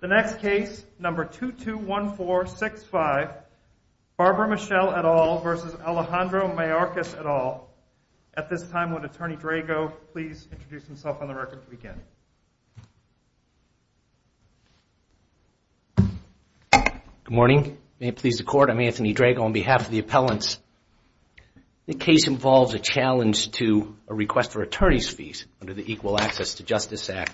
The next case, number 221465, Barbara Michelle et al. v. Alejandro Mayorkas et al. At this time, would Attorney Drago please introduce himself on the record to begin? Good morning. May it please the Court, I'm Anthony Drago on behalf of the appellants. The case involves a challenge to a request for attorney's fees under the Equal Access to Justice Act.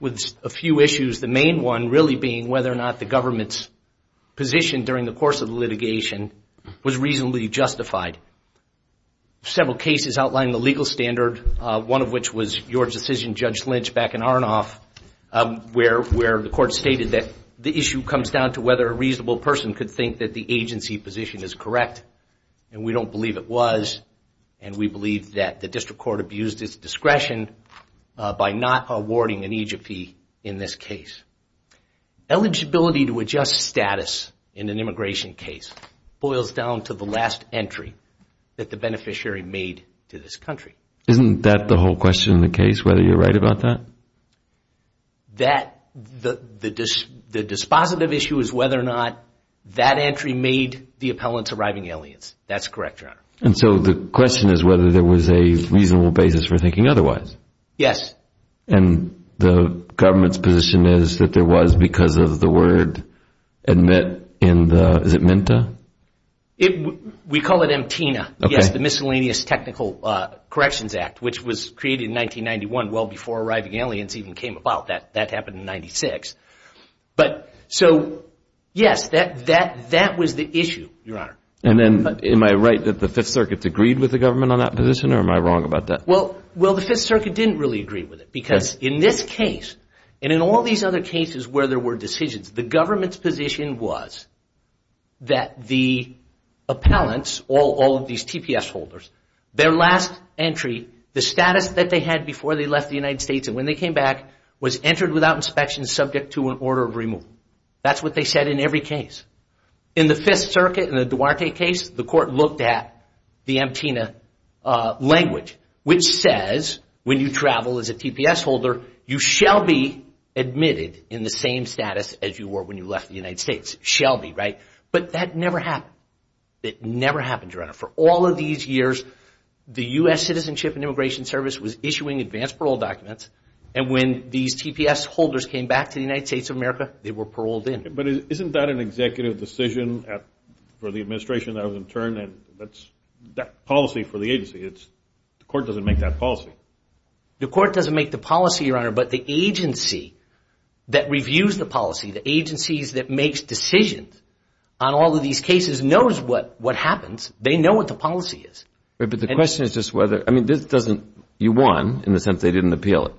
With a few issues, the main one really being whether or not the government's position during the course of litigation was reasonably justified. Several cases outlined the legal standard, one of which was your decision, Judge Lynch, back in Arnoff, where the Court stated that the issue comes down to whether a reasonable person could think that the agency position is correct. And we don't believe it was, and we believe that the District Court abused its discretion by not awarding an aegis fee in this case. Eligibility to adjust status in an immigration case boils down to the last entry that the beneficiary made to this country. Isn't that the whole question in the case, whether you're right about that? The dispositive issue is whether or not that entry made the appellants arriving aliens. That's correct, Your Honor. And so the question is whether there was a reasonable basis for thinking otherwise. Yes. And the government's position is that there was because of the word admit in the, is it MNTA? We call it MTNA, yes, the Miscellaneous Technical Corrections Act, which was created in 1991, well before arriving aliens even came about. That happened in 96. But so, yes, that was the issue, Your Honor. And then am I right that the Fifth Circuit agreed with the government on that position, or am I wrong about that? Well, the Fifth Circuit didn't really agree with it because in this case, and in all these other cases where there were decisions, the government's position was that the appellants, all of these TPS holders, their last entry, the status that they had before they left the United States and when they came back was entered without inspection subject to an order of removal. That's what they said in every case. In the Fifth Circuit, in the Duarte case, the court looked at the MTNA language, which says when you travel as a TPS holder, you shall be admitted in the same status as you were when you left the United States. Shall be, right? But that never happened. It never happened, Your Honor. For all of these years, the U.S. Citizenship and Immigration Service was issuing advanced parole documents, and when these TPS holders came back to the United States of America, they were paroled in. But isn't that an executive decision for the administration that was in turn? That's policy for the agency. The court doesn't make that policy. The court doesn't make the policy, Your Honor, but the agency that reviews the policy, the agencies that makes decisions on all of these cases knows what happens. They know what the policy is. But the question is just whether – I mean, this doesn't – you won in the sense they didn't appeal it.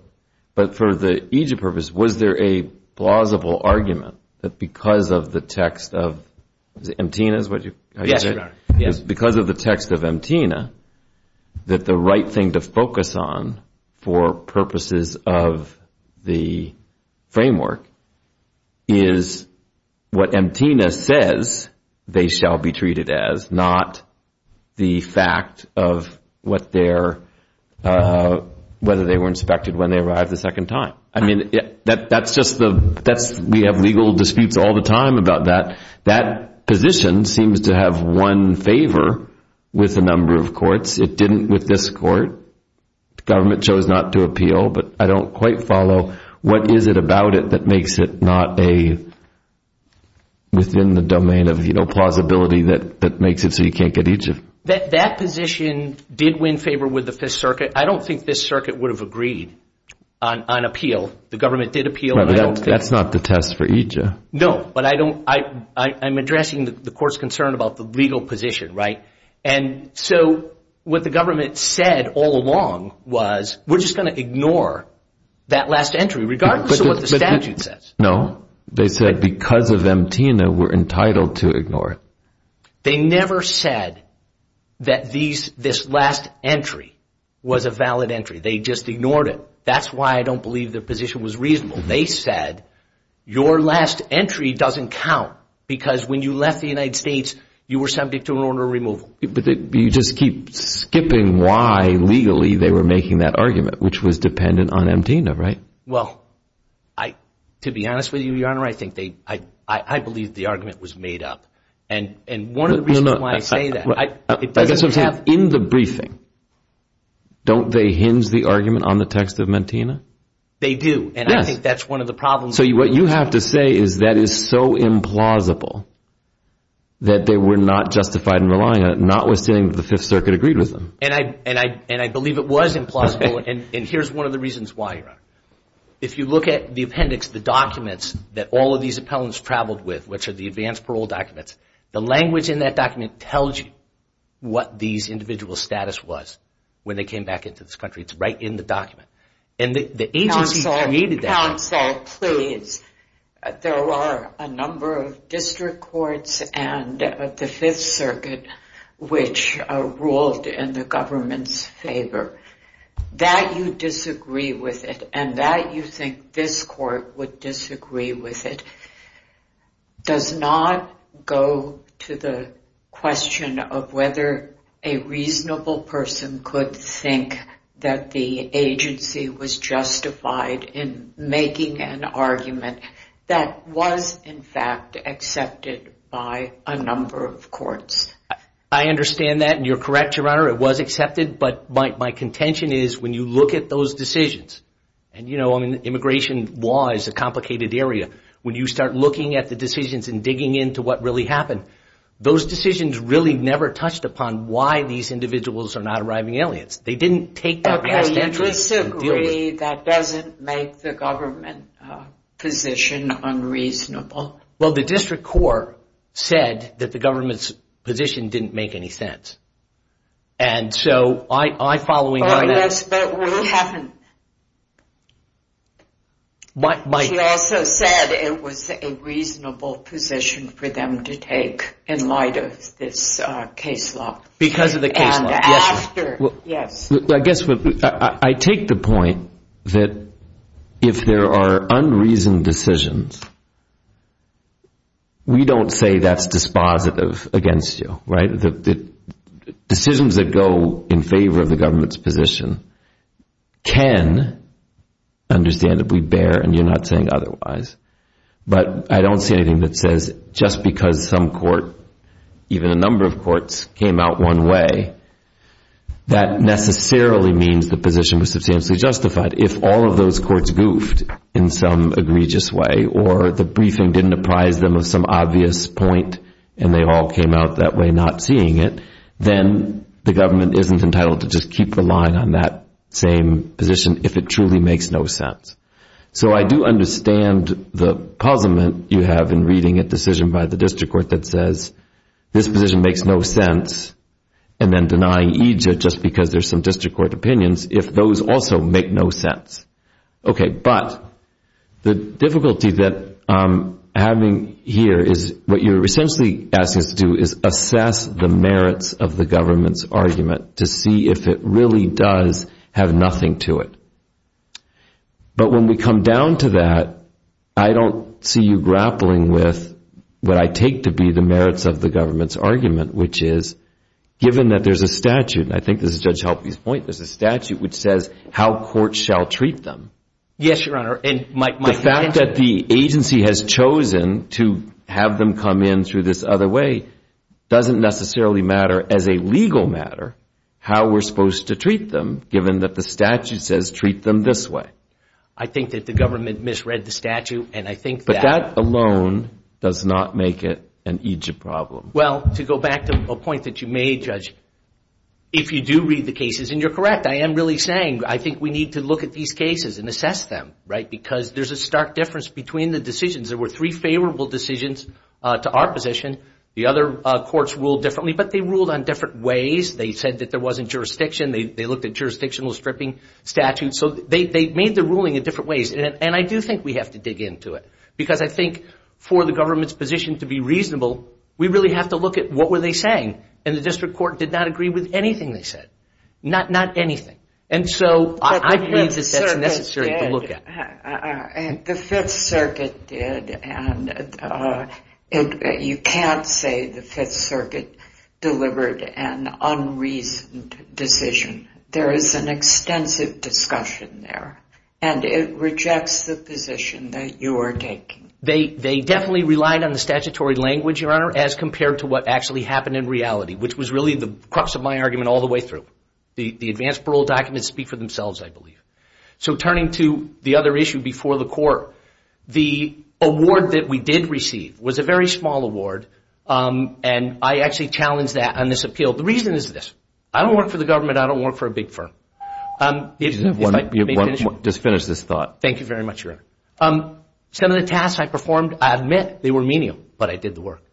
But for the Egypt purpose, was there a plausible argument that because of the text of – is it MTNA is what you – Yes, Your Honor. Because of the text of MTNA, that the right thing to focus on for purposes of the framework is what MTNA says they shall be treated as, not the fact of what their – whether they were inspected when they arrived the second time. I mean, that's just the – we have legal disputes all the time about that. That position seems to have won favor with a number of courts. It didn't with this court. The government chose not to appeal, but I don't quite follow. What is it about it that makes it not a – within the domain of plausibility that makes it so you can't get Egypt? That position did win favor with the Fifth Circuit. I don't think this circuit would have agreed on appeal. The government did appeal. That's not the test for Egypt. No, but I don't – I'm addressing the court's concern about the legal position, right? And so what the government said all along was we're just going to ignore that last entry regardless of what the statute says. No. They said because of MTNA, we're entitled to ignore it. They never said that this last entry was a valid entry. They just ignored it. That's why I don't believe their position was reasonable. They said your last entry doesn't count because when you left the United States, you were subject to an order of removal. But you just keep skipping why legally they were making that argument, which was dependent on MTNA, right? Well, to be honest with you, Your Honor, I think they – I believe the argument was made up. And one of the reasons why I say that – In the briefing, don't they hinge the argument on the text of MTNA? They do. Yes. And I think that's one of the problems. So what you have to say is that is so implausible that they were not justified in relying on it, notwithstanding that the Fifth Circuit agreed with them. And I believe it was implausible, and here's one of the reasons why, Your Honor. If you look at the appendix, the documents that all of these appellants traveled with, which are the advance parole documents, the language in that document tells you what these individual status was when they came back into this country. It's right in the document. And the agency created that. Counsel, please. There are a number of district courts and the Fifth Circuit which ruled in the government's favor. That you disagree with it and that you think this court would disagree with it does not go to the question of whether a reasonable person could think that the agency was justified in making an argument that was in fact accepted by a number of courts. I understand that, and you're correct, Your Honor. It was accepted, but my contention is when you look at those decisions, and, you know, immigration law is a complicated area. When you start looking at the decisions and digging into what really happened, those decisions really never touched upon why these individuals are not arriving aliens. They didn't take that past entry and deal with it. Okay, you disagree that doesn't make the government position unreasonable. Well, the district court said that the government's position didn't make any sense. And so I, following that... But we haven't... Mike... in light of this case law. Because of the case law. And after, yes. I guess I take the point that if there are unreasoned decisions, we don't say that's dispositive against you, right? Decisions that go in favor of the government's position can understandably bear, and you're not saying otherwise. But I don't see anything that says just because some court, even a number of courts, came out one way, that necessarily means the position was substantially justified. If all of those courts goofed in some egregious way, or the briefing didn't apprise them of some obvious point, and they all came out that way not seeing it, then the government isn't entitled to just keep relying on that same position if it truly makes no sense. So I do understand the puzzlement you have in reading a decision by the district court that says this position makes no sense, and then denying each just because there's some district court opinions, if those also make no sense. Okay, but the difficulty that I'm having here is what you're essentially asking us to do is assess the merits of the government's argument to see if it really does have nothing to it. But when we come down to that, I don't see you grappling with what I take to be the merits of the government's argument, which is given that there's a statute, and I think this is Judge Halperin's point, there's a statute which says how courts shall treat them. Yes, Your Honor. The fact that the agency has chosen to have them come in through this other way doesn't necessarily matter as a legal matter how we're supposed to treat them given that the statute says treat them this way. I think that the government misread the statute, and I think that... But that alone does not make it an Egypt problem. Well, to go back to a point that you made, Judge, if you do read the cases, and you're correct, I am really saying I think we need to look at these cases and assess them, right, because there's a stark difference between the decisions. There were three favorable decisions to our position. The other courts ruled differently, but they ruled on different ways. They said that there wasn't jurisdiction. They looked at jurisdictional stripping statutes. So they made the ruling in different ways, and I do think we have to dig into it because I think for the government's position to be reasonable, we really have to look at what were they saying, and the district court did not agree with anything they said, not anything. And so I believe that that's necessary to look at. The Fifth Circuit did, and you can't say the Fifth Circuit delivered an unreasoned decision. There is an extensive discussion there, and it rejects the position that you are taking. They definitely relied on the statutory language, Your Honor, as compared to what actually happened in reality, which was really the crux of my argument all the way through. The advance parole documents speak for themselves, I believe. So turning to the other issue before the court, the award that we did receive was a very small award, and I actually challenged that on this appeal. The reason is this. I don't work for the government. I don't work for a big firm. Just finish this thought. Thank you very much, Your Honor. Some of the tasks I performed, I admit they were menial, but I did the work.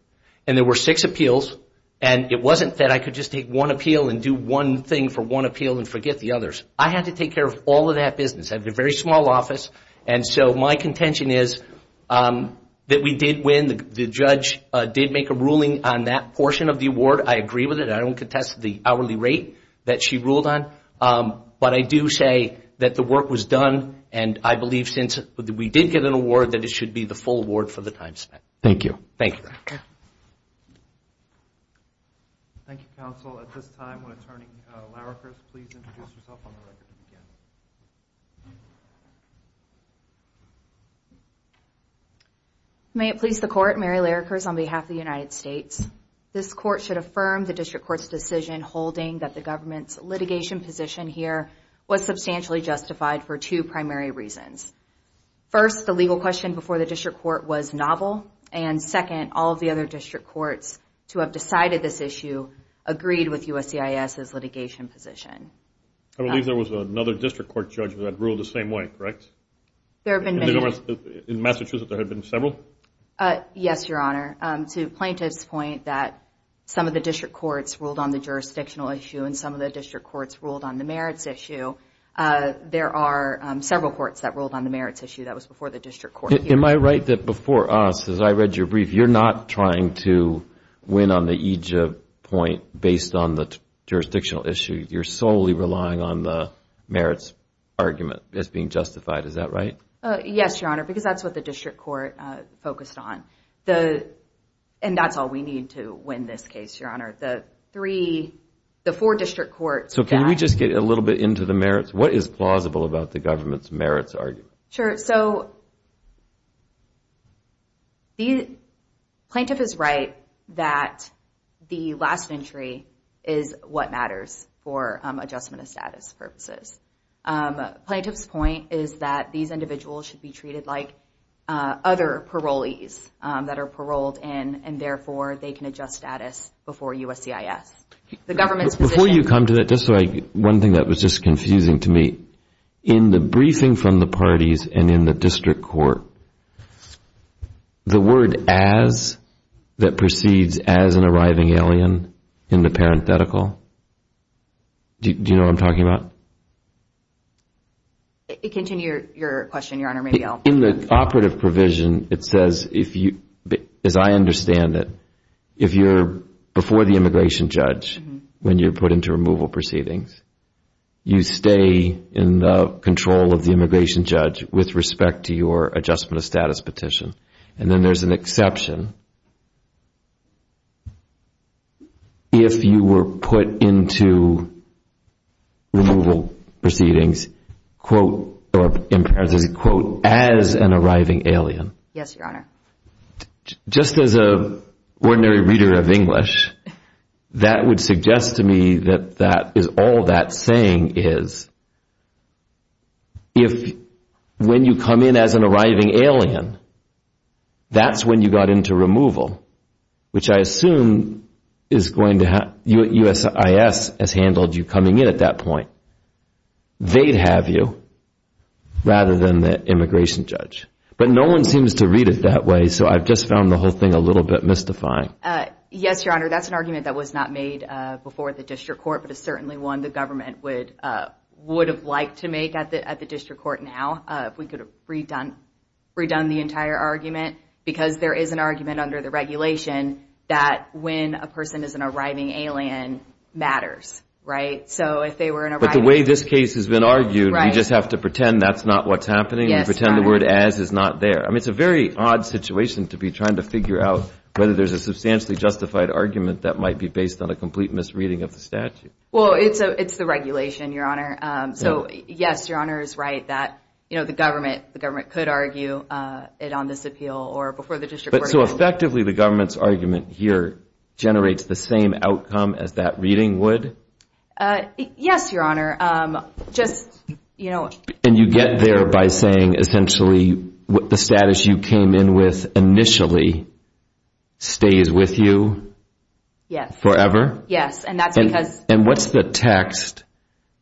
And there were six appeals, and it wasn't that I could just take one appeal and do one thing for one appeal and forget the others. I had to take care of all of that business. I had a very small office, and so my contention is that we did win. The judge did make a ruling on that portion of the award. I agree with it. I don't contest the hourly rate that she ruled on. But I do say that the work was done, and I believe since we did get an award that it should be the full award for the time spent. Thank you. Thank you, Your Honor. Thank you, counsel. At this time, will Attorney Larrakis please introduce herself on the record again? May it please the Court, Mary Larrakis on behalf of the United States. This Court should affirm the District Court's decision holding that the government's litigation position here was substantially justified for two primary reasons. First, the legal question before the District Court was novel, and second, all of the other District Courts to have decided this issue agreed with USCIS's litigation position. I believe there was another District Court judge that ruled the same way, correct? There have been many. In Massachusetts, there have been several? Yes, Your Honor. To Plaintiff's point that some of the District Courts ruled on the jurisdictional issue and some of the District Courts ruled on the merits issue, there are several courts that ruled on the merits issue. That was before the District Court. Am I right that before us, as I read your brief, you're not trying to win on the EJIP point based on the jurisdictional issue? You're solely relying on the merits argument as being justified. Is that right? Yes, Your Honor, because that's what the District Court focused on. And that's all we need to win this case, Your Honor. The four District Courts. Can we just get a little bit into the merits? What is plausible about the government's merits argument? Sure, so Plaintiff is right that the last entry is what matters for adjustment of status purposes. Plaintiff's point is that these individuals should be treated like other parolees that are paroled and, therefore, they can adjust status before USCIS. Before you come to that, just one thing that was just confusing to me. In the briefing from the parties and in the District Court, the word as that proceeds as an arriving alien in the parenthetical, do you know what I'm talking about? Continue your question, Your Honor. In the operative provision, it says, as I understand it, if you're before the immigration judge when you're put into removal proceedings, you stay in the control of the immigration judge with respect to your adjustment of status petition. And then there's an exception. If you were put into removal proceedings, quote, or in parenthesis, quote, as an arriving alien. Yes, Your Honor. Just as an ordinary reader of English, that would suggest to me that all that saying is, if when you come in as an arriving alien, that's when you got into removal, which I assume USCIS has handled you coming in at that point. They'd have you rather than the immigration judge. But no one seems to read it that way, so I've just found the whole thing a little bit mystifying. Yes, Your Honor, that's an argument that was not made before the district court, but it's certainly one the government would have liked to make at the district court now, if we could have redone the entire argument, because there is an argument under the regulation that when a person is an arriving alien, matters, right? So if they were an arriving alien. But the way this case has been argued, we just have to pretend that's not what's happening and pretend the word as is not there. I mean, it's a very odd situation to be trying to figure out whether there's a substantially justified argument that might be based on a complete misreading of the statute. Well, it's the regulation, Your Honor. So, yes, Your Honor is right that the government could argue it on this appeal or before the district court. So effectively the government's argument here generates the same outcome as that reading would? Yes, Your Honor. And you get there by saying essentially the status you came in with initially stays with you forever? Yes. And what's the text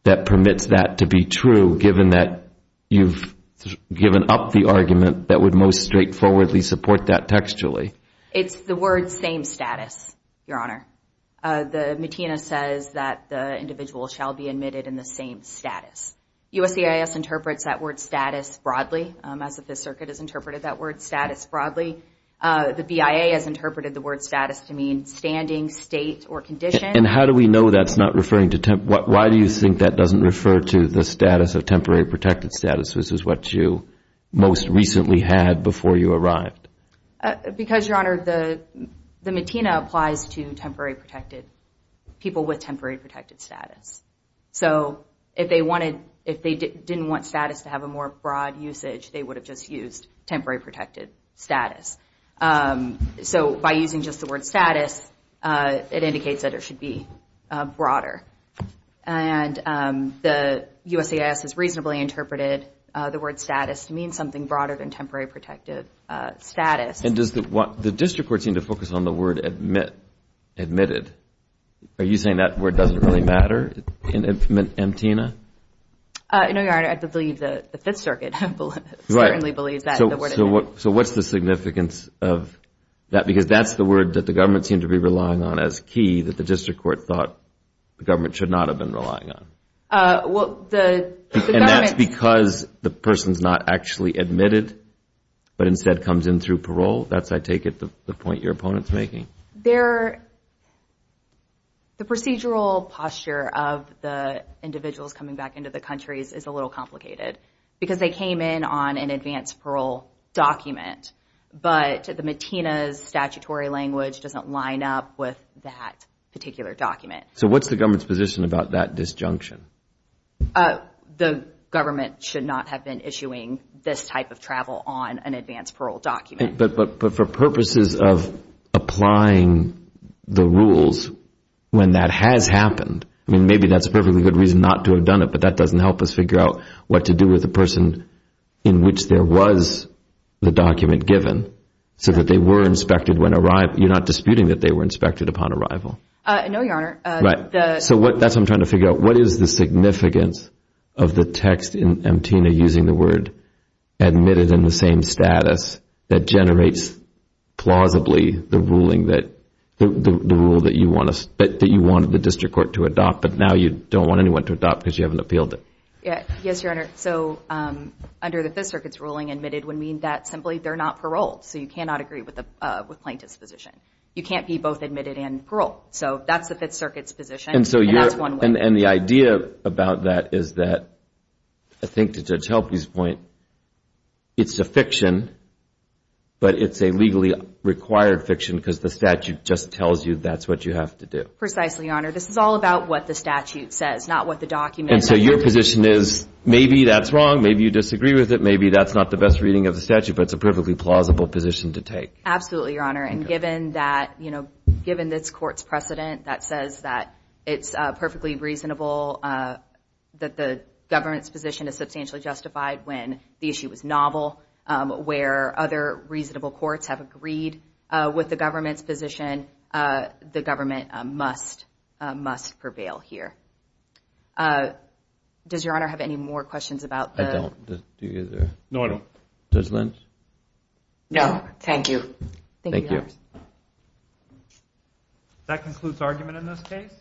that permits that to be true, given that you've given up the argument that would most straightforwardly support that textually? It's the word same status, Your Honor. The MATINA says that the individual shall be admitted in the same status. USCIS interprets that word status broadly, as if the circuit has interpreted that word status broadly. The BIA has interpreted the word status to mean standing, state, or condition. And how do we know that's not referring to temporary? Why do you think that doesn't refer to the status of temporary protected status, which is what you most recently had before you arrived? Because, Your Honor, the MATINA applies to people with temporary protected status. So if they didn't want status to have a more broad usage, they would have just used temporary protected status. So by using just the word status, it indicates that it should be broader. And the USCIS has reasonably interpreted the word status to mean something broader than temporary protected status. And does the district court seem to focus on the word admitted? Are you saying that word doesn't really matter in MATINA? No, Your Honor. I believe the Fifth Circuit certainly believes that. So what's the significance of that? Because that's the word that the government seemed to be relying on as key, that the district court thought the government should not have been relying on. And that's because the person's not actually admitted, but instead comes in through parole? That's, I take it, the point your opponent's making. The procedural posture of the individuals coming back into the country is a little complicated, because they came in on an advanced parole document. But the MATINA's statutory language doesn't line up with that particular document. So what's the government's position about that disjunction? The government should not have been issuing this type of travel on an advanced parole document. But for purposes of applying the rules when that has happened, I mean, maybe that's a perfectly good reason not to have done it, but that doesn't help us figure out what to do with the person in which there was the document given so that they were inspected when arrived. You're not disputing that they were inspected upon arrival? No, Your Honor. Right. So that's what I'm trying to figure out. What is the significance of the text in MATINA using the word admitted in the same status that generates plausibly the ruling that you wanted the district court to adopt, but now you don't want anyone to adopt because you haven't appealed it? Yes, Your Honor. So under the Fifth Circuit's ruling, admitted would mean that simply they're not paroled. So you cannot agree with plaintiff's position. You can't be both admitted and paroled. So that's the Fifth Circuit's position, and that's one way. And the idea about that is that, I think to Judge Helpe's point, it's a fiction, but it's a legally required fiction because the statute just tells you that's what you have to do. Precisely, Your Honor. This is all about what the statute says, not what the document says. And so your position is maybe that's wrong, maybe you disagree with it, maybe that's not the best reading of the statute, but it's a perfectly plausible position to take. Absolutely, Your Honor. And given this court's precedent that says that it's perfectly reasonable, that the government's position is substantially justified when the issue is novel, where other reasonable courts have agreed with the government's position, the government must prevail here. Does Your Honor have any more questions about the? I don't. Do you either? No, I don't. Judge Lynch? No, thank you. Thank you, Your Honor. Thank you. That concludes argument in this case.